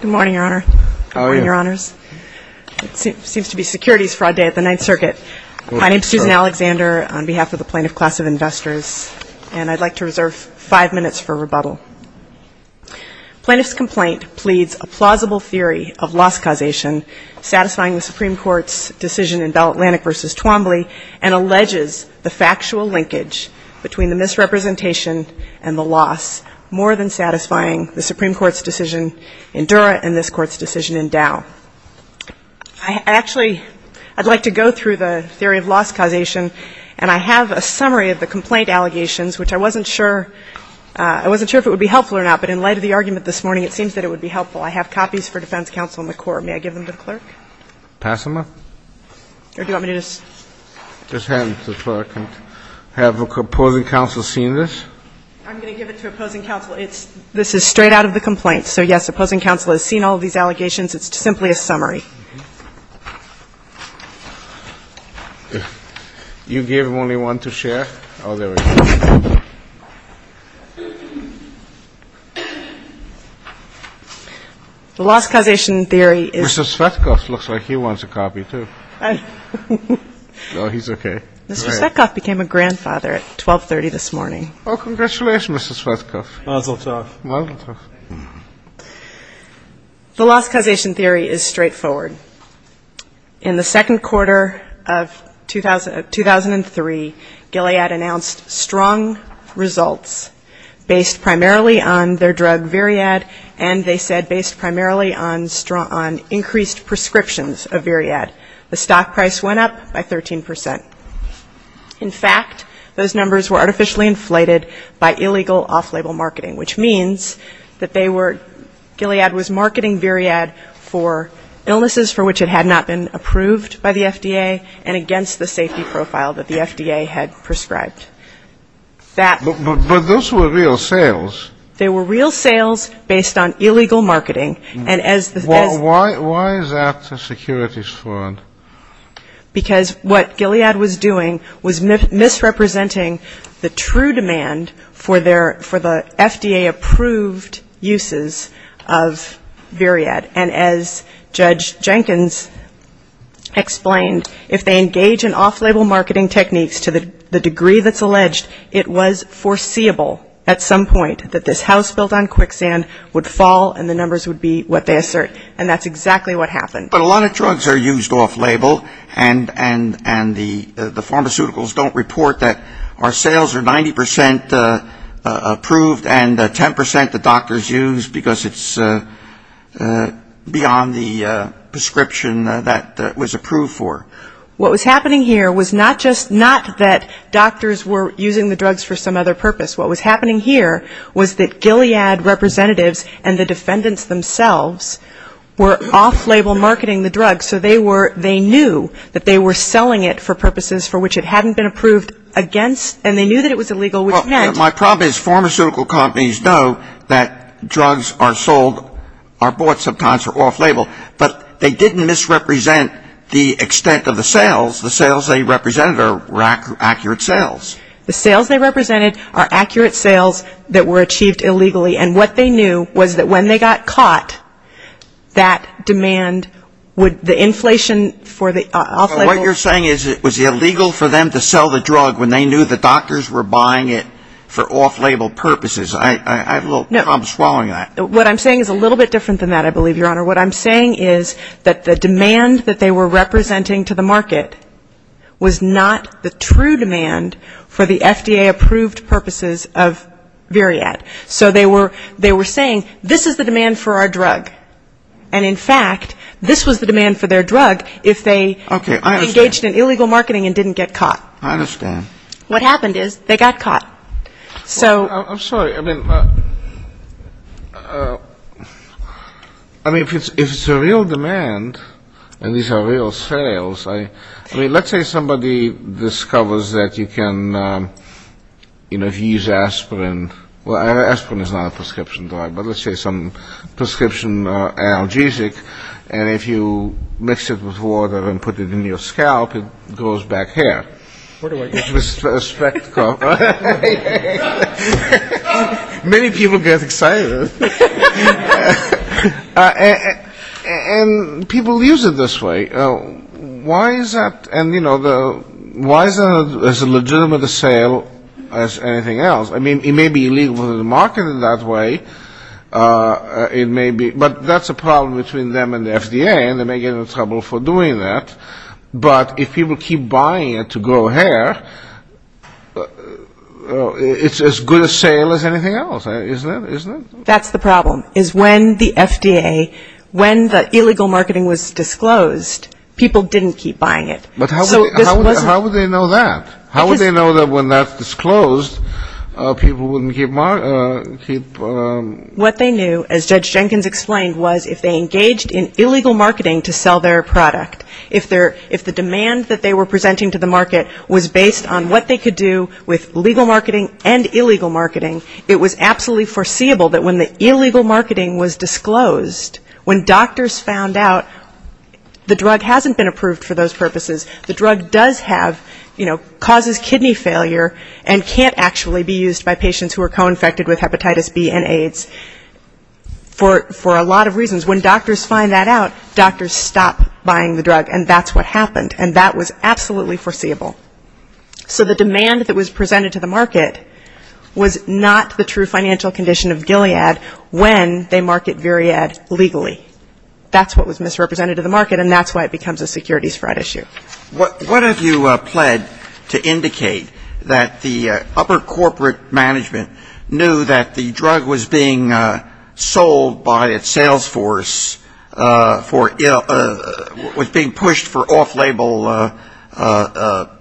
Good morning, Your Honor. It seems to be securities fraud day at the Ninth Circuit. My name is Susan Alexander, on behalf of the plaintiff class of investors, and I'd like to reserve five minutes for rebuttal. Plaintiff's complaint pleads a plausible theory of loss causation, satisfying the Supreme Court's decision in Bell Atlantic v. Twombly, and alleges the factual linkage between the misrepresentation and the loss, more than satisfying the Supreme Court's decision in Dura and this Court's decision in Dow. Actually, I'd like to go through the theory of loss causation, and I have a summary of the complaint allegations, which I wasn't sure if it would be helpful or not. But in light of the argument this morning, it seems that it would be helpful. I have copies for defense counsel in the court. May I give them to the clerk? Pass them up? Or do you want me to just hand them to the clerk and have opposing counsel seen this? I'm going to give it to opposing counsel. This is straight out of the complaint. So, yes, opposing counsel has seen all of these allegations. It's simply a summary. You gave him only one to share? Oh, there we go. The loss causation theory is ---- Mr. Svetkov looks like he wants a copy, too. No, he's okay. Mr. Svetkov became a grandfather at 1230 this morning. Oh, congratulations, Mr. Svetkov. Mazel tov. Mazel tov. The loss causation theory is straightforward. In the second quarter of 2003, Gilead announced strong results based primarily on their drug Viriad, and they said based primarily on increased prescriptions of Viriad. The stock price went up by 13%. In fact, those numbers were artificially inflated by illegal off-label marketing, which means that they were ---- Gilead was marketing Viriad for illnesses for which it had not been approved by the FDA and against the safety profile that the FDA had prescribed. But those were real sales. They were real sales based on illegal marketing. Why is that a securities fraud? Because what Gilead was doing was misrepresenting the true demand for the FDA-approved uses of Viriad. And as Judge Jenkins explained, if they engage in off-label marketing techniques to the degree that's alleged, it was foreseeable at some point that this house built on quicksand would fall and the numbers would be what they assert. And that's exactly what happened. But a lot of drugs are used off-label, and the pharmaceuticals don't report that our sales are 90% approved and 10% the doctors use because it's beyond the prescription that was approved for. What was happening here was not just not that doctors were using the drugs for some other purpose. What was happening here was that Gilead representatives and the defendants themselves were off-label marketing the drugs, so they were ---- they knew that they were selling it for purposes for which it hadn't been approved against, and they knew that it was illegal, which meant ---- My problem is pharmaceutical companies know that drugs are sold, are bought sometimes for off-label, but they didn't misrepresent the extent of the sales. The sales they represented were accurate sales. The sales they represented are accurate sales that were achieved illegally, and what they knew was that when they got caught, that demand would ---- the inflation for the off-label ---- What you're saying is it was illegal for them to sell the drug when they knew the doctors were buying it for off-label purposes. I have a little problem swallowing that. What I'm saying is a little bit different than that, I believe, Your Honor. What I'm saying is that the demand that they were representing to the market was not the true demand for the FDA-approved purposes of Veriad. So they were saying, this is the demand for our drug. And, in fact, this was the demand for their drug if they engaged in illegal marketing and didn't get caught. I understand. What happened is they got caught. I'm sorry. I mean, if it's a real demand, and these are real sales, let's say somebody discovers that you can use aspirin. Well, aspirin is not a prescription drug, but let's say some prescription analgesic, and if you mix it with water and put it in your scalp, it grows back hair. It's a spectacle. Many people get excited. And people use it this way. Why is that? And, you know, why is it as legitimate a sale as anything else? I mean, it may be illegal to market it that way. It may be. But that's a problem between them and the FDA, and they may get into trouble for doing that. But if people keep buying it to grow hair, it's as good a sale as anything else, isn't it? That's the problem, is when the FDA, when the illegal marketing was disclosed, people didn't keep buying it. But how would they know that? How would they know that when that's disclosed, people wouldn't keep? What they knew, as Judge Jenkins explained, was if they engaged in illegal marketing to sell their product, if the demand that they were presenting to the market was based on what they could do with legal marketing and illegal marketing, it was absolutely foreseeable that when the illegal marketing was disclosed, when doctors found out the drug hasn't been approved for those purposes, the drug does have, you know, causes kidney failure and can't actually be used by patients who are co-infected with hepatitis B and AIDS for a lot of reasons. When doctors find that out, doctors stop buying the drug, and that's what happened, and that was absolutely foreseeable. So the demand that was presented to the market was not the true financial condition of Gilead when they market Viriad legally. That's what was misrepresented to the market, and that's why it becomes a securities fraud issue. What have you pled to indicate that the upper corporate management knew that the drug was being sold by its sales force for illness, was being pushed for off-label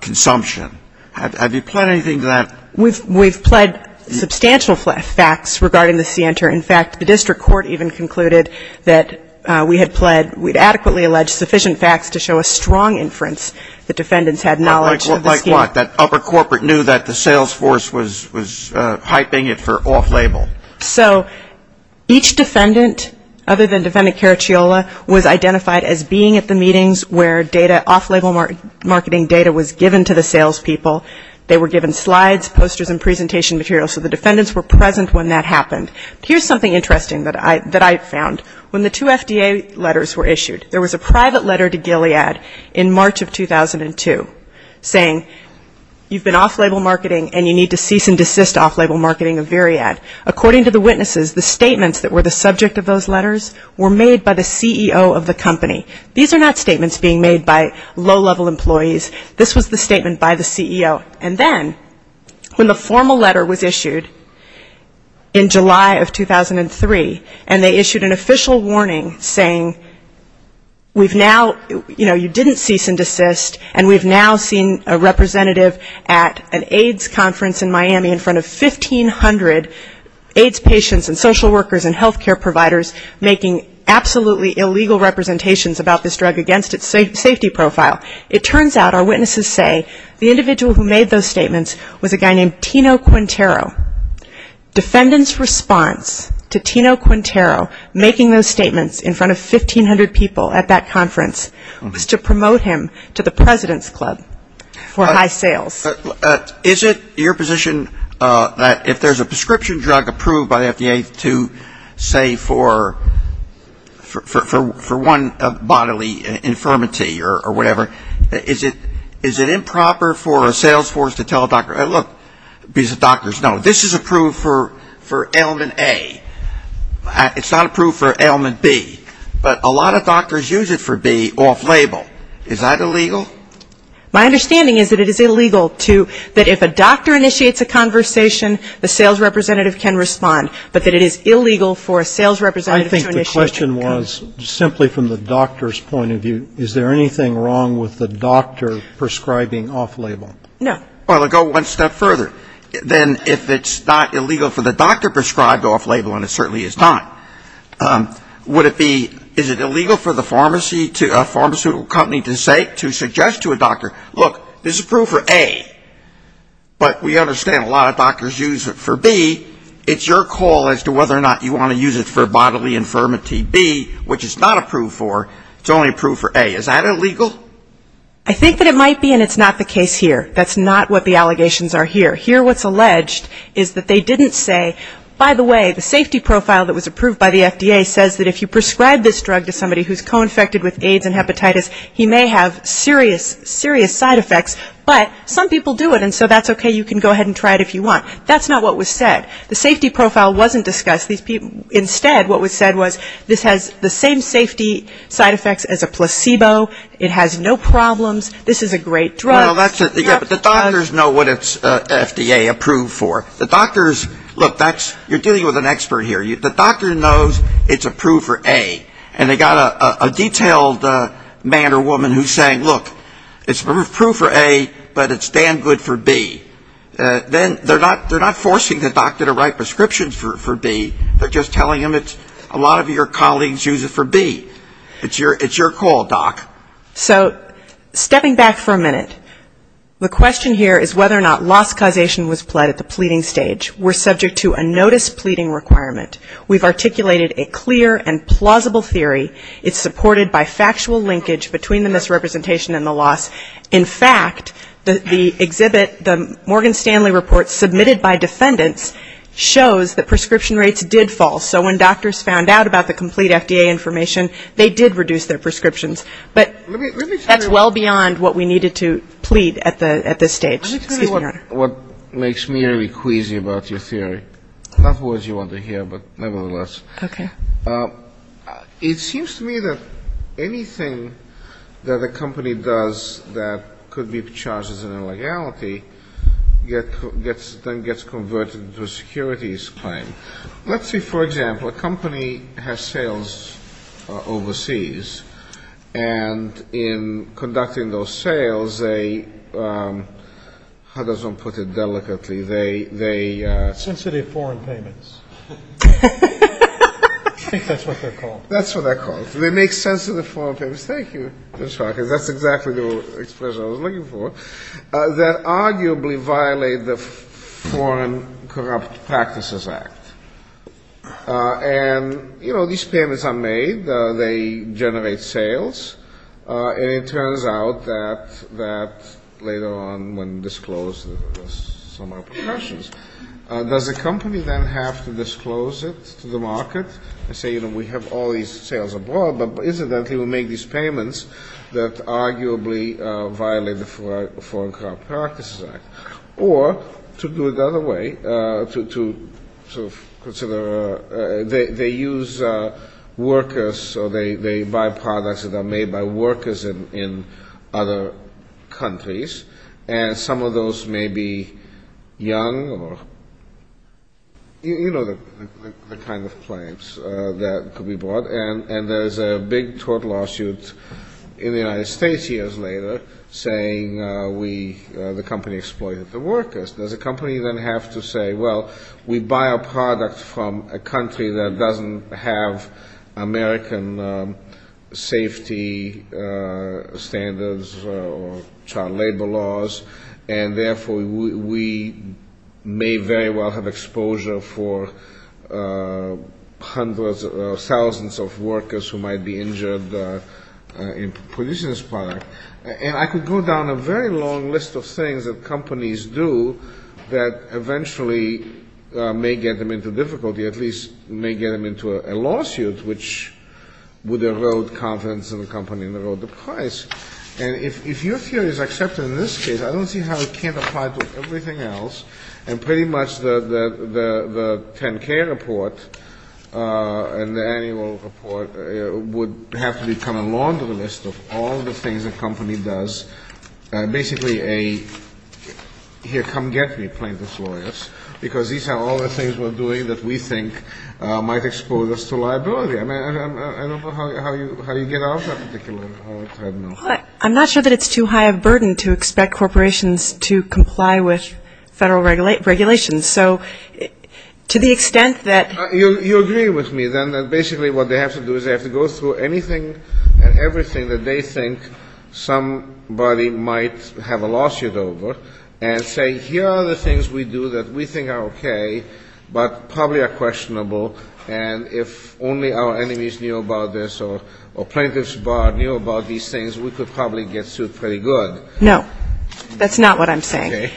consumption? Have you pled anything to that? We've pled substantial facts regarding the CNTR. In fact, the district court even concluded that we had pled, we had adequately alleged sufficient facts to show a strong inference that defendants had knowledge of the scheme. Like what? That upper corporate knew that the sales force was hyping it for off-label? So each defendant, other than defendant Caracciola, was identified as being at the meetings where data, off-label marketing data was given to the sales people. They were given slides, posters and presentation material, so the defendants were present when that happened. Here's something interesting that I found. When the two FDA letters were issued, there was a private letter to Gilead in March of 2002, saying you've been off-label marketing and you need to cease and desist off-label marketing of Viriad. According to the witnesses, the statements that were the subject of those letters were made by the CEO of the company. These are not statements being made by low-level employees. This was the statement by the CEO. And then when the formal letter was issued in July of 2003, and they issued an official warning saying we've now, you know, you didn't cease and desist and we've now seen a representative at an AIDS conference in Miami in front of 1,500 AIDS patients and social workers and health care providers making absolutely illegal representations about this drug against its safety profile. It turns out, our witnesses say, the individual who made those statements was a guy named Tino Quintero. Defendants' response to Tino Quintero making those statements in front of 1,500 people at that conference was to promote him to the President's Club for high sales. Is it your position that if there's a prescription drug approved by the FDA to say for one bodily infirmity or whatever, is it improper for a sales force to tell a doctor, look, because the doctors know, this is approved for ailment A. It's not approved for ailment B. But a lot of doctors use it for B off-label. Is that illegal? My understanding is that it is illegal to, that if a doctor initiates a conversation, the sales representative can respond, but that it is illegal for a sales representative to initiate a conversation. I think the question was simply from the doctor's point of view, is there anything wrong with the doctor prescribing off-label? No. Well, to go one step further, then if it's not illegal for the doctor prescribed off-label, and it certainly is not, would it be, is it illegal for the pharmacy, a pharmaceutical company to say, to suggest that it's illegal to prescribe off-label? No. It's not illegal for the pharmacy to suggest to a doctor, look, this is approved for A. But we understand a lot of doctors use it for B. It's your call as to whether or not you want to use it for bodily infirmity B, which it's not approved for. It's only approved for A. Is that illegal? I think that it might be, and it's not the case here. That's not what the allegations are here. Here what's alleged is that they didn't say, by the way, the safety profile that was approved by the FDA says that if you prescribe this drug to somebody who's co-infected with AIDS and hepatitis, he may have serious health problems. He may have serious side effects, but some people do it, and so that's okay. You can go ahead and try it if you want. That's not what was said. The safety profile wasn't discussed. Instead, what was said was this has the same safety side effects as a placebo. It has no problems. This is a great drug. Well, that's it. The doctors know what it's FDA approved for. The doctors, look, you're dealing with an expert here. The doctor knows it's approved for A. And they've got a detailed man or woman who's saying, look, this is approved for B. It's approved for A, but it's damn good for B. Then they're not forcing the doctor to write prescriptions for B. They're just telling him it's a lot of your colleagues use it for B. It's your call, doc. So stepping back for a minute, the question here is whether or not loss causation was pled at the pleading stage. We're subject to a notice pleading requirement. We've articulated a clear and plausible theory. It's supported by factual linkage between the misrepresentation and the loss. In fact, the exhibit, the Morgan Stanley report submitted by defendants shows that prescription rates did fall. So when doctors found out about the complete FDA information, they did reduce their prescriptions. But that's well beyond what we needed to plead at this stage. What makes me very queasy about your theory, not words you want to hear, but nevertheless. Okay. It seems to me that anything that a company does that could be charged as an illegality gets converted to a securities claim. Let's say, for example, a company has sales overseas. And in conducting those sales, they, how does one put it delicately, they... Sensitive foreign payments. I think that's what they're called. That's what they're called. They make sensitive foreign payments. Thank you. That's exactly the expression I was looking for. That arguably violate the Foreign Corrupt Practices Act. And, you know, these payments are made. They generate sales. And it turns out that later on, when disclosed, there's some repercussions. Does the company then have to disclose it to the market and say, you know, we have all these sales abroad, but incidentally we make these payments that arguably violate the Foreign Corrupt Practices Act. Or, to do it the other way, to sort of consider, they use workers, or they buy products that are made by workers in other countries. And some of those may be young or, you know, the kind of claims that could be brought. And there's a big tort lawsuit in the United States years later saying we, the company, exploits workers. Does the company then have to say, well, we buy a product from a country that doesn't have American safety standards or child labor laws. And therefore we may very well have exposure for hundreds or thousands of workers who might be injured in producing this product. And I could go down a very long list of things that companies do that eventually may get them into difficulty, at least may get them into a lawsuit, which would erode confidence in the company and erode the price. And if your theory is accepted in this case, I don't see how it can't apply to everything else. And pretty much the 10-K report and the annual report would have to become a laundry list of all the things that companies do. Basically a, here, come get me, plaintiffs' lawyers, because these are all the things we're doing that we think might expose us to liability. I mean, I don't know how you get out of that particular, I don't know. I'm not sure that it's too high a burden to expect corporations to comply with federal regulations. So to the extent that... You agree with me, then, that basically what they have to do is they have to go through anything and everything that they think somebody might have a lawsuit over and say, here are the things we do that we think are okay, but probably are questionable, and if only our enemies knew about this or plaintiffs' bar knew about these things, we could probably get sued pretty good. No, that's not what I'm saying. Okay.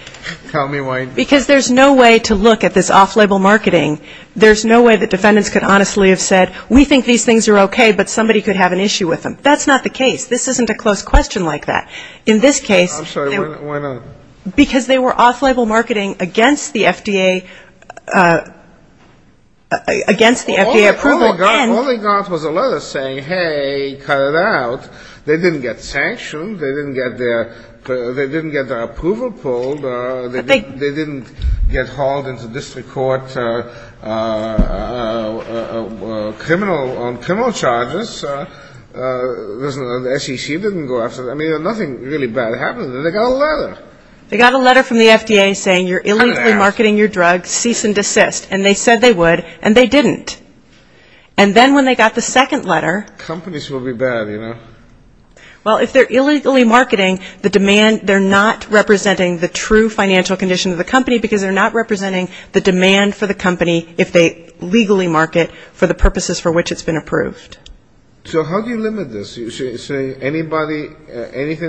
Tell me why. Because there's no way to look at this off-label marketing. There's no way that defendants could honestly have said, we think these things are okay, but somebody could have an issue with them. That's not the case. This isn't a close question like that. Because they were off-label marketing against the FDA approval. All they got was a letter saying, hey, cut it out. They didn't get sanctioned. They didn't get their approval pulled. They didn't get hauled into district court on criminal charges. The SEC didn't go after them. I mean, nothing really bad happened. They got a letter. Cut it out. And they didn't. Well, if they're illegally marketing the demand, they're not representing the true financial condition of the company, because they're not representing the demand for the company if they legally market for the purposes for which it's been approved. So how do you limit this? Anything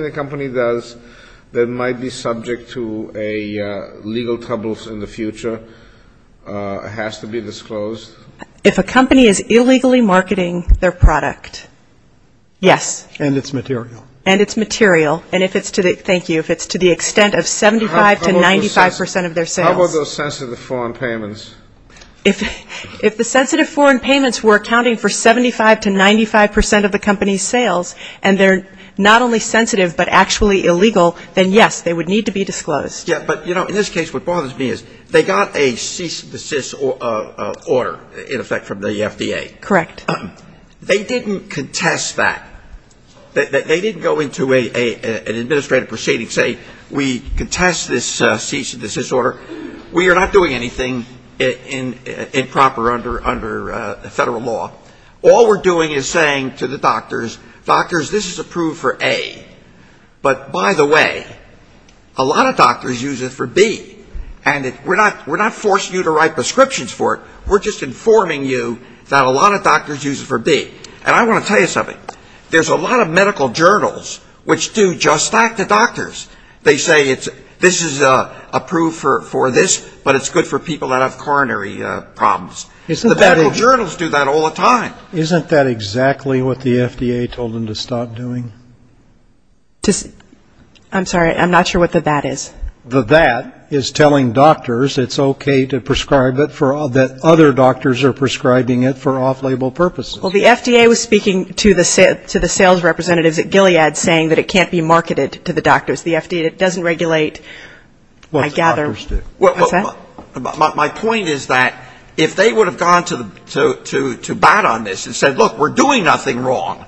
the company does that might be subject to legal troubles in the future has to be disclosed? If a company is illegally marketing their product, yes. And it's material. And it's material. And if it's to the extent of 75 to 95 percent of their sales. How about those sensitive foreign payments? If the sensitive foreign payments were accounting for 75 to 95 percent of the company's sales, and they're not only sensitive, but actually illegal, then, yes, they would need to be disclosed. Yeah, but in this case, what bothers me is they got a cease and desist order, in effect, from the FDA. Correct. They didn't contest that. They didn't go into an administrative proceeding and say, we contest this cease and desist order. We are not doing anything improper under federal law. All we're doing is saying to the doctors, doctors, this is approved for A. But, by the way, a lot of doctors use it for B. And we're not forcing you to write prescriptions for it. We're just informing you that a lot of doctors use it for B. And I want to tell you something. There's a lot of medical journals which do just that to doctors. They say this is approved for this, but it's good for people that have coronary problems. The medical journals do that all the time. Isn't that exactly what the FDA told them to stop doing? I'm sorry, I'm not sure what the that is. The that is telling doctors it's okay to prescribe it, that other doctors are prescribing it for off-label purposes. Well, the FDA was speaking to the sales representatives at Gilead saying that it can't be marketed to the doctors. The FDA doesn't regulate, I gather. What's that? My point is that if they would have gone to bat on this and said, look, we're doing nothing wrong,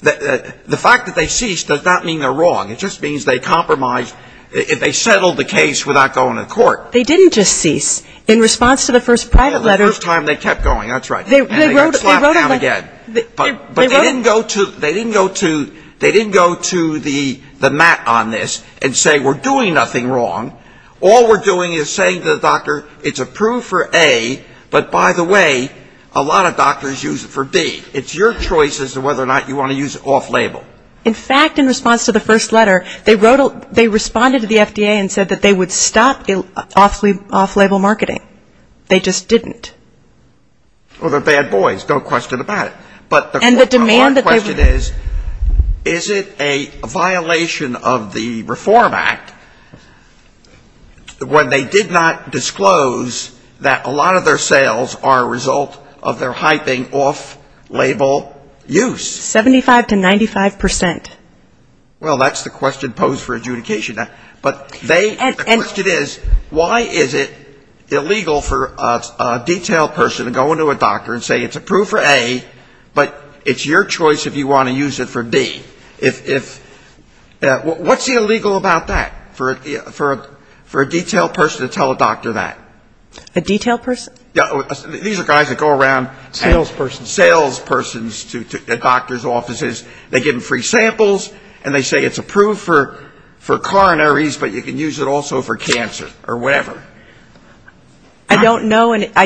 the fact that they ceased does not mean they're wrong. It just means they compromised, they settled the case without going to court. They didn't just cease. In response to the first private letter they wrote a letter. They didn't go to the mat on this and say we're doing nothing wrong. All we're doing is saying to the doctor it's approved for A, but by the way, a lot of doctors use it for B. It's your choice as to whether or not you want to use it off-label. In fact, in response to the first letter, they responded to the FDA and said that they would stop off-label marketing. They just didn't. Well, they're bad boys, no question about it. But the hard question is, is it a violation of the Reform Act when they did not disclose that a lot of their sales are a result of their sales and 95%? Well, that's the question posed for adjudication. But the question is, why is it illegal for a detailed person to go into a doctor and say it's approved for A, but it's your choice if you want to use it for B? What's illegal about that, for a detailed person to tell a doctor that? A detailed person? These are guys that go around. Sales persons. Sales persons at doctors' offices, they give them free samples and they say it's approved for coronaries, but you can use it also for cancer or whatever. I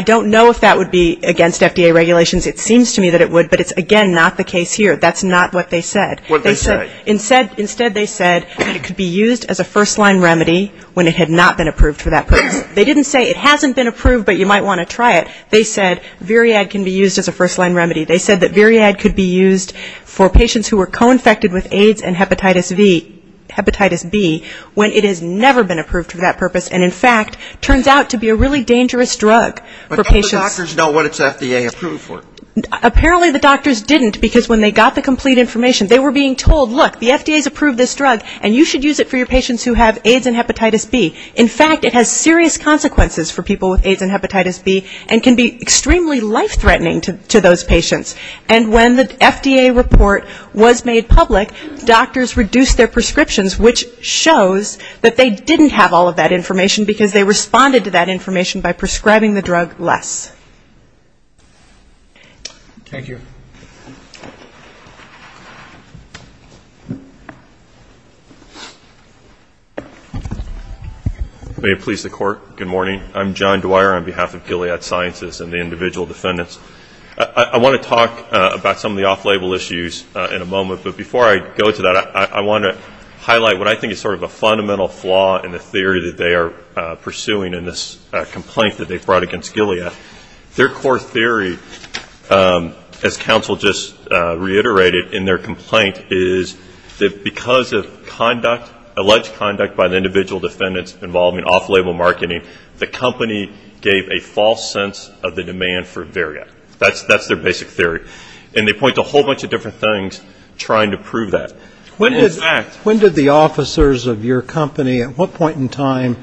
don't know if that would be against FDA regulations. It seems to me that it would, but it's, again, not the case here. That's not what they said. Instead, they said it could be used as a first-line remedy when it had not been approved for that purpose. They didn't say it hasn't been approved, but you might want to try it. They said Viriad can be used as a first-line remedy. They said that Viriad could be used for patients who were co-infected with AIDS and hepatitis B when it has never been approved for that purpose, but that's not the complete information. They were being told, look, the FDA has approved this drug, and you should use it for your patients who have AIDS and hepatitis B. In fact, it has serious consequences for people with AIDS and hepatitis B and can be extremely life-threatening to those patients. And when the FDA report was made public, doctors reduced their prescriptions, which shows that they didn't have all of that information, because they responded to that information by prescribing the drug less. Thank you. May it please the Court, good morning. I'm John Dwyer on behalf of Gilead Sciences and the individual defendants. I want to talk about some of the off-label issues in a moment, but before I go to that, I want to highlight what I think is sort of a fundamental flaw in the theory that they are pursuing in this complaint that they've brought against Gilead. Their core theory, as counsel just reiterated in their complaint, is that because of conduct, alleged conduct by the individual defendants involving off-label marketing, the company gave a false sense of the demand for Varia. That's their basic theory. And they point to a whole bunch of different things trying to prove that. When did the officers of your company, at what point in time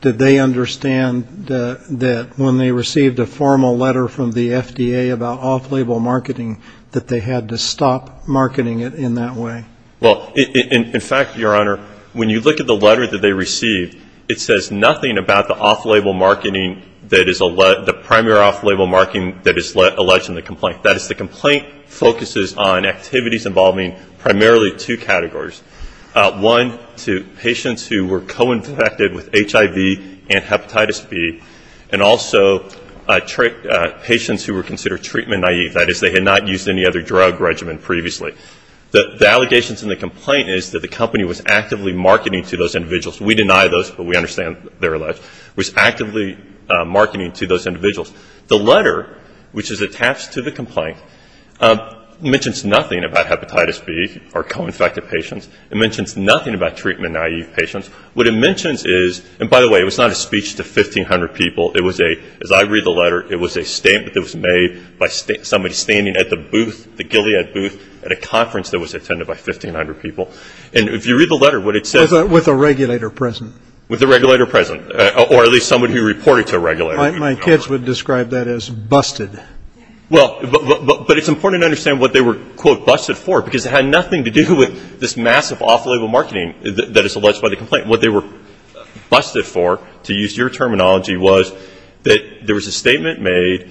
did they understand that when they received a formal letter from the FDA about off-label marketing, that they had to stop marketing it in that way? Well, in fact, Your Honor, when you look at the letter that they received, it says nothing about the off-label marketing that is the primary off-label marketing that is alleged in the complaint. That is, the complaint focuses on activities involving primarily two categories. One, to patients who were co-infected with HIV and hepatitis B, and also patients who were considered treatment-naive. That is, they had not used any other drug regimen previously. The allegations in the complaint is that the company was actively marketing to those individuals. We deny those, but we understand they're alleged. It was actively marketing to those individuals. The letter, which is attached to the complaint, mentions nothing about hepatitis B or co-infected patients. It mentions nothing about treatment-naive patients. What it mentions is, and by the way, it was not a speech to 1,500 people. It was a, as I read the letter, it was a statement that was made by somebody standing at the booth, the Gilead booth, at a conference that was attended by 1,500 people. And if you read the letter, what it says... My kids would describe that as busted. Well, but it's important to understand what they were, quote, busted for, because it had nothing to do with this massive off-label marketing that is alleged by the complaint. What they were busted for, to use your terminology, was that there was a statement made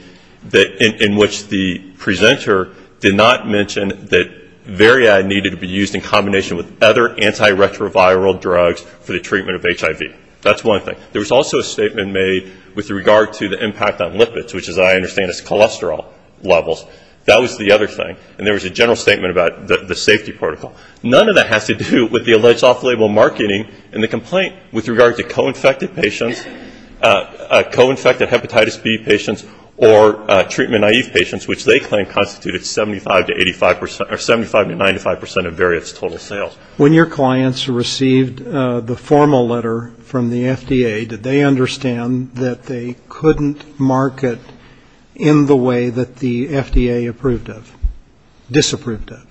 in which the presenter did not mention that Varia had needed to be used in combination with other antiretroviral drugs for the treatment of HIV. That's one thing. There was also a statement made with regard to the impact on lipids, which as I understand is cholesterol levels. That was the other thing, and there was a general statement about the safety protocol. None of that has to do with the alleged off-label marketing in the complaint with regard to co-infected patients, co-infected hepatitis B patients, or treatment-naive patients, which they claim constituted 75 to 95% of Varia's total sales. When your clients received the formal letter from the FDA, did they understand that they couldn't market in the way that the FDA approved of, disapproved of?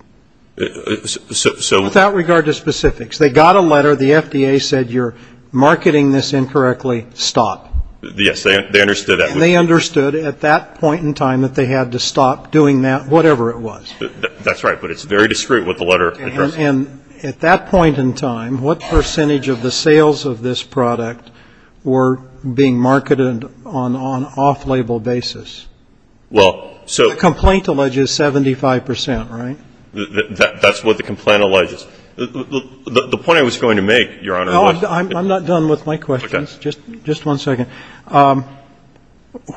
Without regard to specifics, they got a letter, the FDA said you're marketing this incorrectly, stop. Yes, they understood that. And they understood at that point in time that they had to stop doing that, whatever it was. That's right, but it's very discreet what the letter addressed. And at that point in time, what percentage of the sales of this product were being marketed on off-label basis? Well, so the complaint alleges 75%, right? That's what the complaint alleges. The point I was going to make, Your Honor. I'm not done with my questions, just one second.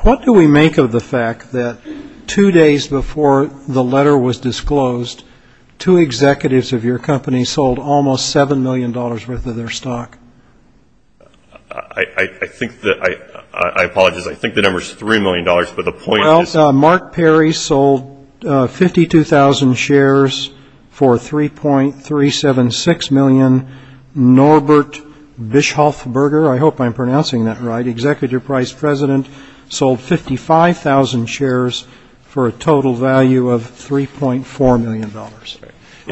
What do we make of the fact that two days before the letter was disclosed, two executives of your company sold almost $7 million worth of their stock? I think that, I apologize, I think the number is $3 million, but the point is. Well, Mark Perry sold 52,000 shares for 3.376 million. Norbert Bischoffberger, I hope I'm pronouncing that right, Executive Price President, sold 55,000 shares for a total value of $3.4 million. Are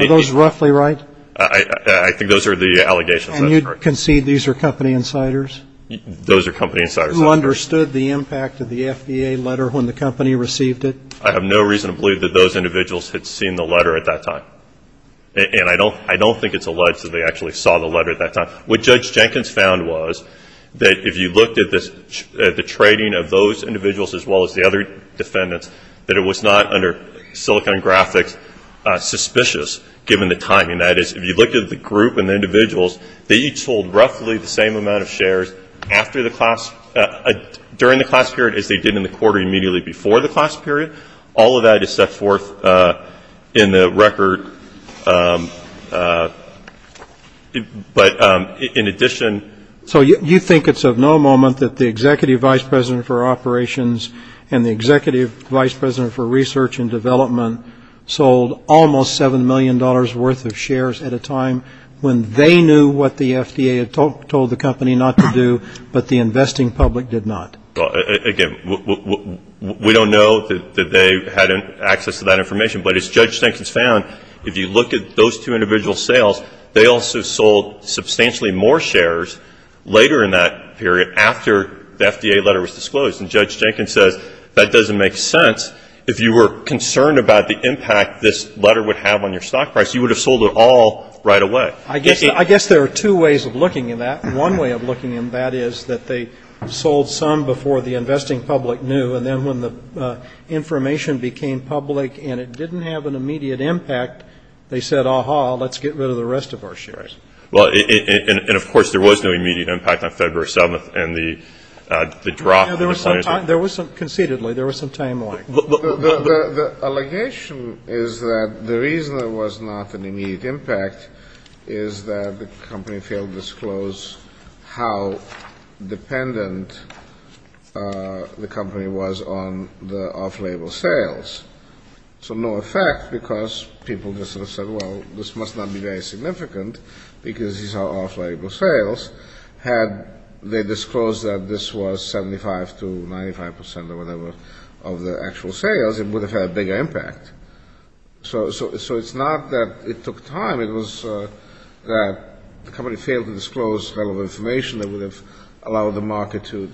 those roughly right? I think those are the allegations. And you concede these are company insiders? Those are company insiders. Who understood the impact of the FBA letter when the company received it? I have no reason to believe that those individuals had seen the letter at that time. And I don't think it's alleged that they actually saw the letter at that time. What Judge Jenkins found was that if you looked at the trading of those individuals as well as the other defendants, that it was not, under Silicon Graphics, suspicious given the timing. That is, if you looked at the group and the individuals, they each sold roughly the same amount of shares during the class period as they did in the quarter immediately before the class period. All of that is set forth in the record. So you think it's of no moment that the Executive Vice President for Operations and the Executive Vice President for Research and Development sold almost $7 million worth of shares at a time when they knew what the FDA had told the company not to do, but the investing public did not? Again, we don't know that they had access to that information. But as Judge Jenkins found, if you look at those two individual sales, they also sold substantially more shares later in that period after the FDA letter was disclosed. And Judge Jenkins says that doesn't make sense. If you were concerned about the impact this letter would have on your stock price, you would have sold it all right away. I guess there are two ways of looking at that. One way of looking at that is that they sold some before the investing public knew, and then when the information became public and it didn't have an immediate impact, they said, aha, let's get rid of the rest of our shares. And, of course, there was no immediate impact on February 7th and the drop. Conceitedly, there was some time lag. The allegation is that the reason there was not an immediate impact is that the company failed to disclose how dependent the company was on the off-label sales. So no effect, because people just sort of said, well, this must not be very significant, because these are off-label sales. Had they disclosed that this was 75 to 95 percent or whatever of the actual sales, it would have had a bigger impact. So it's not that it took time. It was that the company failed to disclose relevant information that would have allowed the market to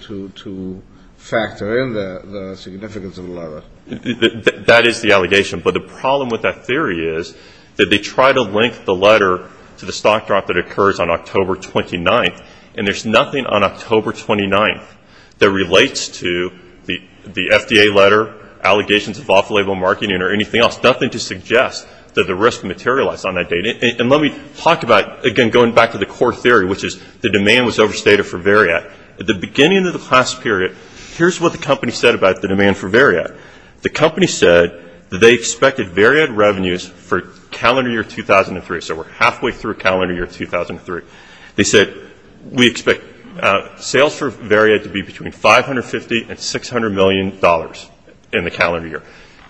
But the problem with that theory is that they try to link the letter to the stock drop that occurs on October 29th, and there's nothing on October 29th that relates to the FDA letter, allegations of off-label marketing, or anything else, nothing to suggest that the risk materialized on that date. And let me talk about, again, going back to the core theory, which is the demand was overstated for Variad. At the beginning of the class period, here's what the company said about the demand for Variad. The company said that they expected Variad revenues for calendar year 2003. So we're halfway through calendar year 2003. They said, we expect sales for Variad to be between $550 and $600 million in the calendar year.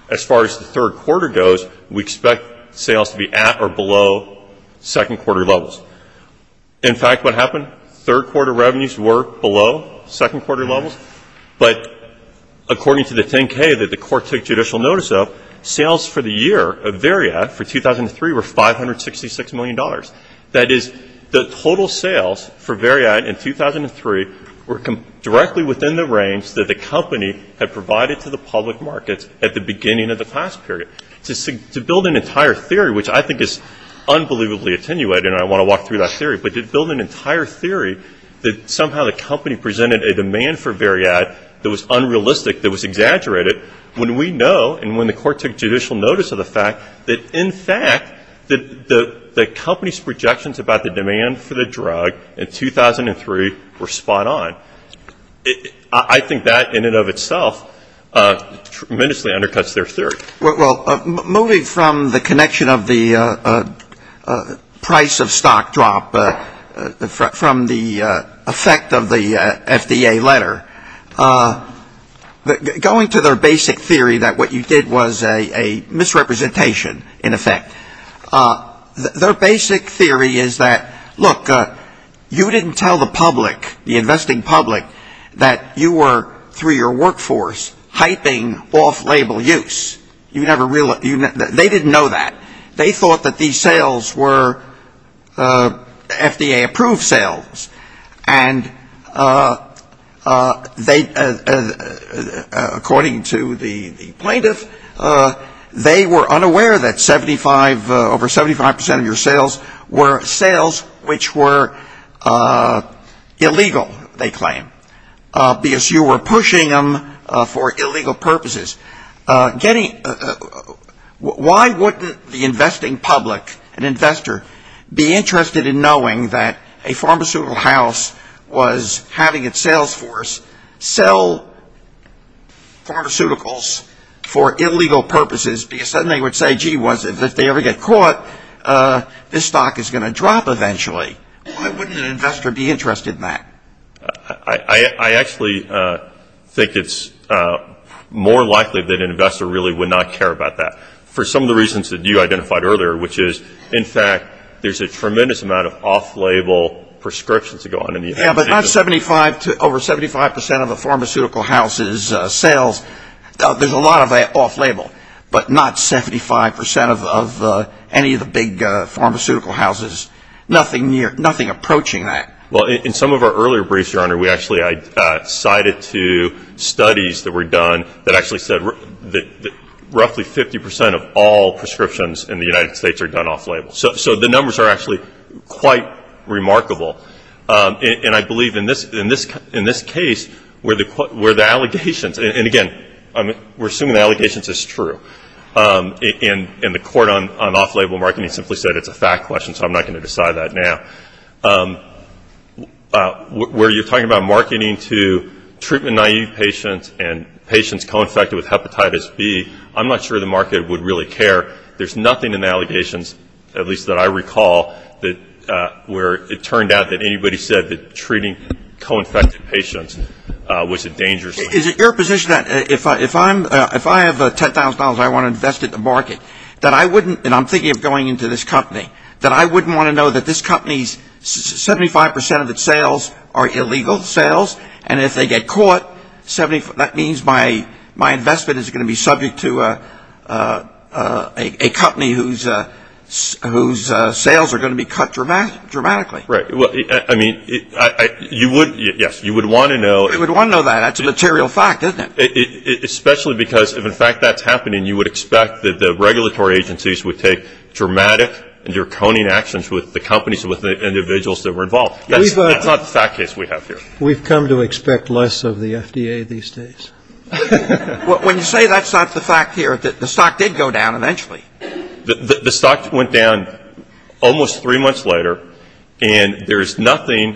As far as the third quarter goes, we expect sales to be at or below second quarter levels. In fact, what happened, third quarter revenues were below second quarter levels, but according to the 10-K that the court took judicial notice of, sales for the year of Variad for 2003 were $566 million. That is, the total sales for Variad in 2003 were directly within the range that the company had provided to the public markets at the beginning of the class period. To build an entire theory, which I think is unbelievably attenuated, and I want to walk through that theory, but to build an entire theory that somehow the company presented a demand for Variad that was unrealistic, that was exaggerated, when we know, and when the court took judicial notice of the fact, that in fact the company's projections about the demand for the drug in 2003 were spot on. I think that in and of itself tremendously undercuts their theory. Well, moving from the connection of the price of stock drop from the effect of the FDA letter, going to their basic theory that what you did was a misrepresentation, in effect. Their basic theory is that, look, you didn't tell the public, the investing public, that you were, through your workforce, hyping off-label use. They didn't know that. They thought that these sales were FDA-approved sales, and according to the plaintiff, they were unaware that over 75% of your sales were sales which were illegal, they claim, because you were pushing them for illegal purposes. Why wouldn't the investing public, an investor, be interested in knowing that a pharmaceutical house was having its sales force sell pharmaceuticals for illegal purposes, because suddenly they would say, gee, if they ever get caught, this stock is going to drop eventually. Why wouldn't an investor be interested in that? I actually think it's more likely that an investor really would not care about that, for some of the reasons that you identified earlier, which is, in fact, there's a tremendous amount of off-label prescriptions that go on. Yeah, but over 75% of a pharmaceutical house's sales, there's a lot of that off-label, but not 75% of any of the big pharmaceutical houses, nothing approaching that. Well, in some of our earlier briefs, Your Honor, we actually cited two studies that were done that actually said that roughly 50% of all prescriptions in the United States are done off-label. So the numbers are actually quite remarkable. And I believe in this case, where the allegations, and again, we're assuming the allegations is true, and the court on off-label marketing simply said it's a fact question, so I'm not going to decide that now. Where you're talking about marketing to treatment-naive patients and patients co-infected with hepatitis B, I'm not sure the market would really care. There's nothing in the allegations, at least that I recall, where it turned out that anybody said that treating co-infected patients was a dangerous thing. Is it your position that if I have $10,000 and I want to invest it in the market, that I wouldn't, and I'm thinking of going into this company, that I wouldn't want to know that this company's 75% of its sales are illegal sales, and if they get caught, that means my investment is going to be subject to a company whose sales are going to be cut dramatically? Right. I mean, yes, you would want to know. You would want to know that. That's a material fact, isn't it? Especially because if, in fact, that's happening, you would expect that the regulatory agencies would take dramatic and draconian actions with the companies and with the individuals that were involved. That's not the fact case we have here. We've come to expect less of the FDA these days. When you say that's not the fact here, the stock did go down eventually. The stock went down almost three months later, and there's nothing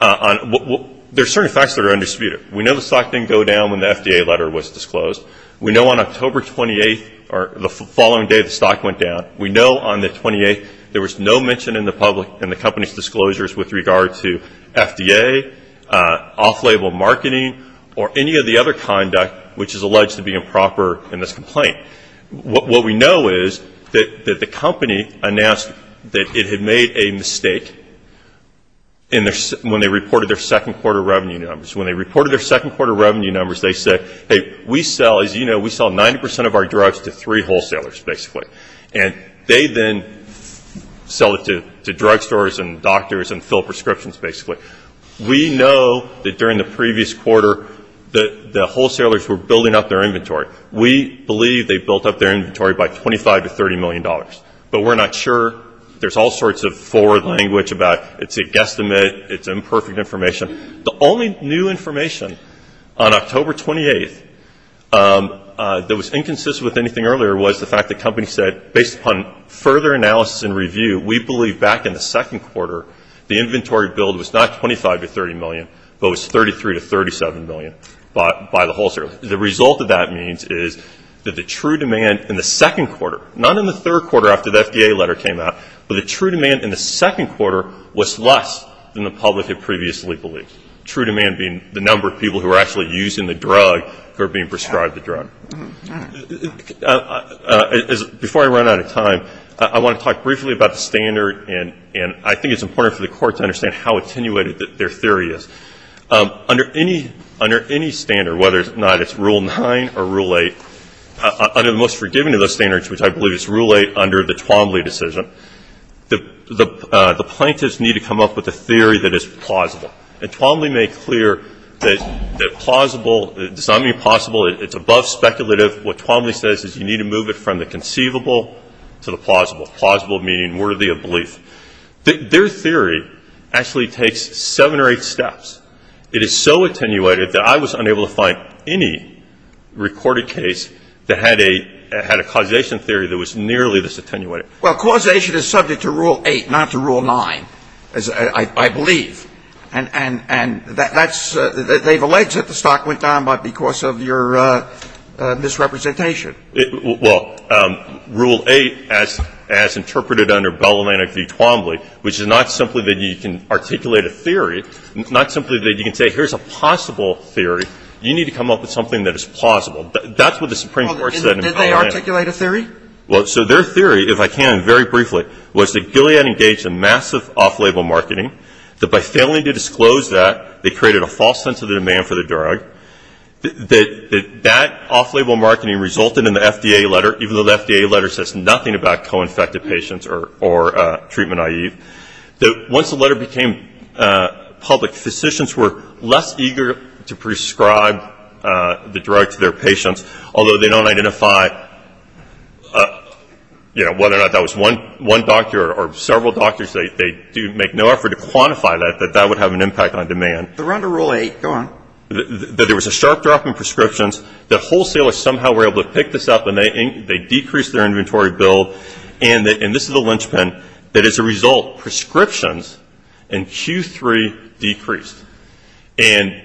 on the there's certain facts that are undisputed. We know the stock didn't go down when the FDA letter was disclosed. We know on October 28th, or the following day the stock went down, we know on the 28th there was no mention in the company's disclosures with regard to FDA, off-label marketing, or any of the other conduct which is alleged to be improper in this complaint. What we know is that the company announced that it had made a mistake when they reported their second quarter revenue numbers. When they reported their second quarter revenue numbers, they said, hey, we sell, as you know, we sell 90% of our drugs to three wholesalers, basically. And they then sell it to drugstores and doctors and fill prescriptions, basically. We know that during the previous quarter the wholesalers were building up their inventory. We believe they built up their inventory by $25 to $30 million. But we're not sure. There's all sorts of forward language about it's a guesstimate, it's imperfect information. The only new information on October 28th that was inconsistent with anything earlier was the fact the company said, based upon further analysis and review, we believe back in the second quarter the inventory build was not $25 to $30 million, but was $33 to $37 million by the wholesaler. The result of that means is that the true demand in the second quarter, not in the third quarter after the FDA letter came out, but the true demand in the second quarter was less than the public had previously believed, true demand being the number of people who were actually using the drug who were being prescribed the drug. Before I run out of time, I want to talk briefly about the standard, and I think it's important for the Court to understand how attenuated their theory is. Under any standard, whether or not it's Rule 9 or Rule 8, under the most forgiving of those standards, which I believe is Rule 8 under the Twombly decision, the plaintiffs need to come up with a theory that is plausible. And Twombly made clear that plausible does not mean possible. It's above speculative. What Twombly says is you need to move it from the conceivable to the plausible, plausible meaning worthy of belief. Their theory actually takes seven or eight steps. It is so attenuated that I was unable to find any recorded case that had a causation theory that was nearly this attenuated. Well, causation is subject to Rule 8, not to Rule 9, I believe. And that's they've alleged that the stock went down because of your misrepresentation. Well, Rule 8, as interpreted under Bellman v. Twombly, which is not simply that you can articulate a theory, not simply that you can say here's a possible theory. You need to come up with something that is plausible. That's what the Supreme Court said in Bellman. Did they articulate a theory? Well, so their theory, if I can, very briefly, was that Gilead engaged in massive off-label marketing, that by failing to disclose that, they created a false sense of the demand for the drug, that that off-label marketing resulted in the FDA letter, even though the FDA letter says nothing about co-infected patients or treatment IEV, that once the letter became public, physicians were less eager to prescribe the drug to their patients, although they don't identify whether or not that was one doctor or several doctors. They make no effort to quantify that, that that would have an impact on demand. They're under Rule 8. Go on. That there was a sharp drop in prescriptions, that wholesalers somehow were able to pick this up, and they decreased their inventory build, and this is the linchpin, that as a result prescriptions in Q3 decreased. And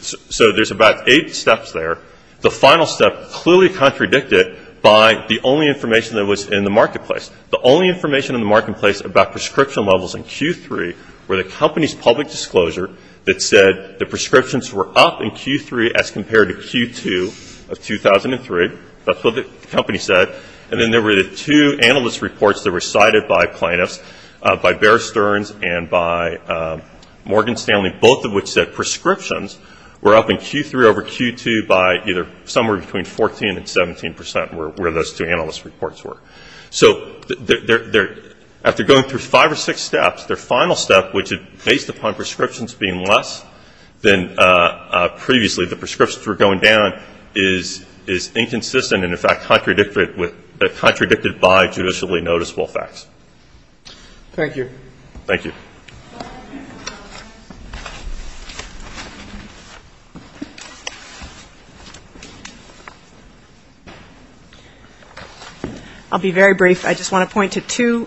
so there's about eight steps there. The final step clearly contradicted by the only information that was in the marketplace. The only information in the marketplace about prescription levels in Q3 were the company's public disclosure that said the prescriptions were up in Q3 as compared to Q2 of 2003. That's what the company said. And then there were the two analyst reports that were cited by plaintiffs, by Bear Stearns and by Morgan Stanley, both of which said prescriptions were up in Q3 over Q2 by either somewhere between 14% and 17% were where those two analyst reports were. So after going through five or six steps, their final step, which is based upon prescriptions being less than previously, the prescriptions were going down is inconsistent and, in fact, contradicted by judicially noticeable facts. Thank you. Thank you. I'll be very brief. I just want to point to two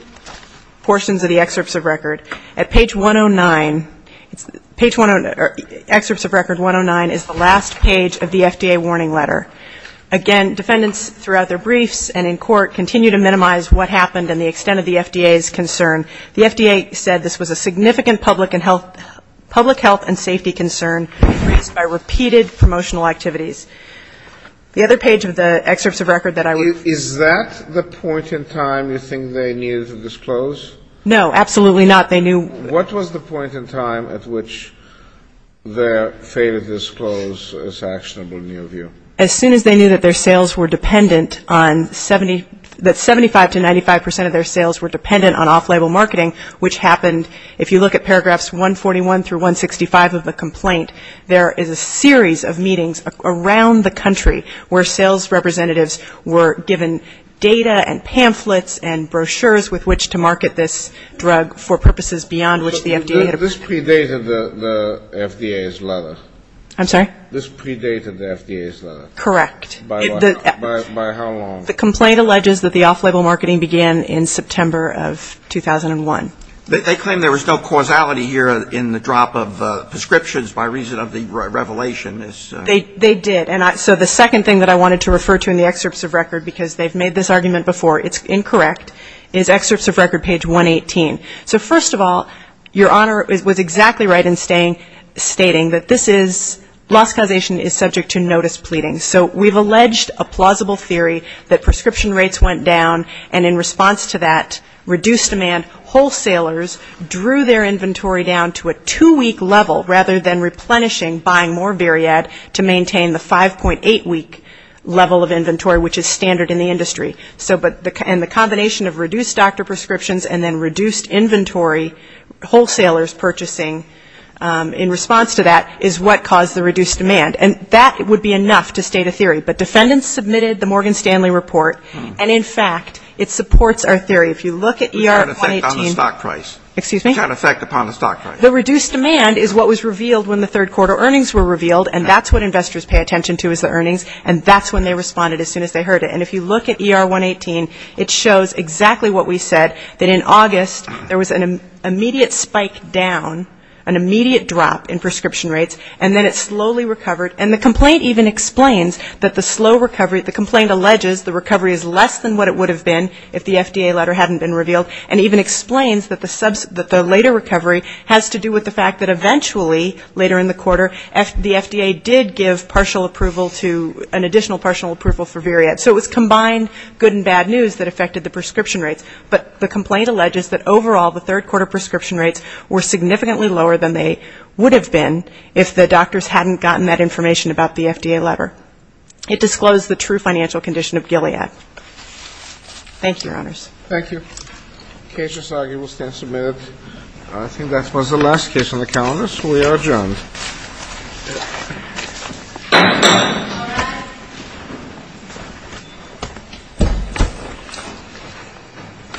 portions of the excerpts of record. At page 109, it's excerpts of record 109 is the last page of the FDA warning letter. Again, defendants throughout their briefs and in court continue to minimize what happened and the extent of the FDA's concern. The FDA said this was a significant public and health, public health and safety concern raised by repeated promotional activities. The other page of the excerpts of record that I would. Is that the point in time you think they needed to disclose? No, absolutely not. They knew. What was the point in time at which they failed to disclose this actionable new view? As soon as they knew that their sales were dependent on 70, that 75 to 95 percent of their sales were dependent on off-label marketing, which happened, if you look at paragraphs 141 through 165 of the complaint, there is a series of meetings around the country where sales representatives were given data and pamphlets and brochures with which to market this drug for purposes beyond which the FDA had. This predated the FDA's letter. I'm sorry? This predated the FDA's letter. Correct. By how long? The complaint alleges that the off-label marketing began in September of 2001. They claim there was no causality here in the drop of prescriptions by reason of the revelation. They did. So the second thing that I wanted to refer to in the excerpts of record, because they've made this argument before, it's incorrect, is excerpts of record page 118. So first of all, Your Honor was exactly right in stating that this is, loss causation is subject to notice pleading. So we've alleged a plausible theory that prescription rates went down, and in response to that reduced demand, wholesalers drew their inventory down to a two-week level rather than replenishing, buying more Veriad to maintain the 5.8-week level of inventory, which is standard in the industry. And the combination of reduced doctor prescriptions and then reduced inventory, wholesalers purchasing in response to that is what caused the reduced demand. And that would be enough to state a theory. But defendants submitted the Morgan Stanley Report, and in fact, it supports our theory. If you look at ER 118. It's got an effect on the stock price. Excuse me? It's got an effect upon the stock price. The reduced demand is what was revealed when the third quarter earnings were revealed, and that's what investors pay attention to is the earnings, and that's when they responded as soon as they heard it. And if you look at ER 118, it shows exactly what we said, that in August there was an immediate spike down, an immediate drop in prescription rates, and then it slowly recovered. And the complaint even explains that the slow recovery, the complaint alleges the recovery is less than what it would have been if the FDA letter hadn't been revealed, and even explains that the later recovery has to do with the fact that eventually, later in the quarter, the FDA did give partial approval to, an additional partial approval for Veriad. So it was combined good and bad news that affected the prescription rates. But the complaint alleges that overall the third quarter prescription rates were if the doctors hadn't gotten that information about the FDA letter. It disclosed the true financial condition of Gilead. Thank you, Your Honors. Thank you. The case is argued and will stand submitted. I think that was the last case on the calendar, so we are adjourned. Thank you.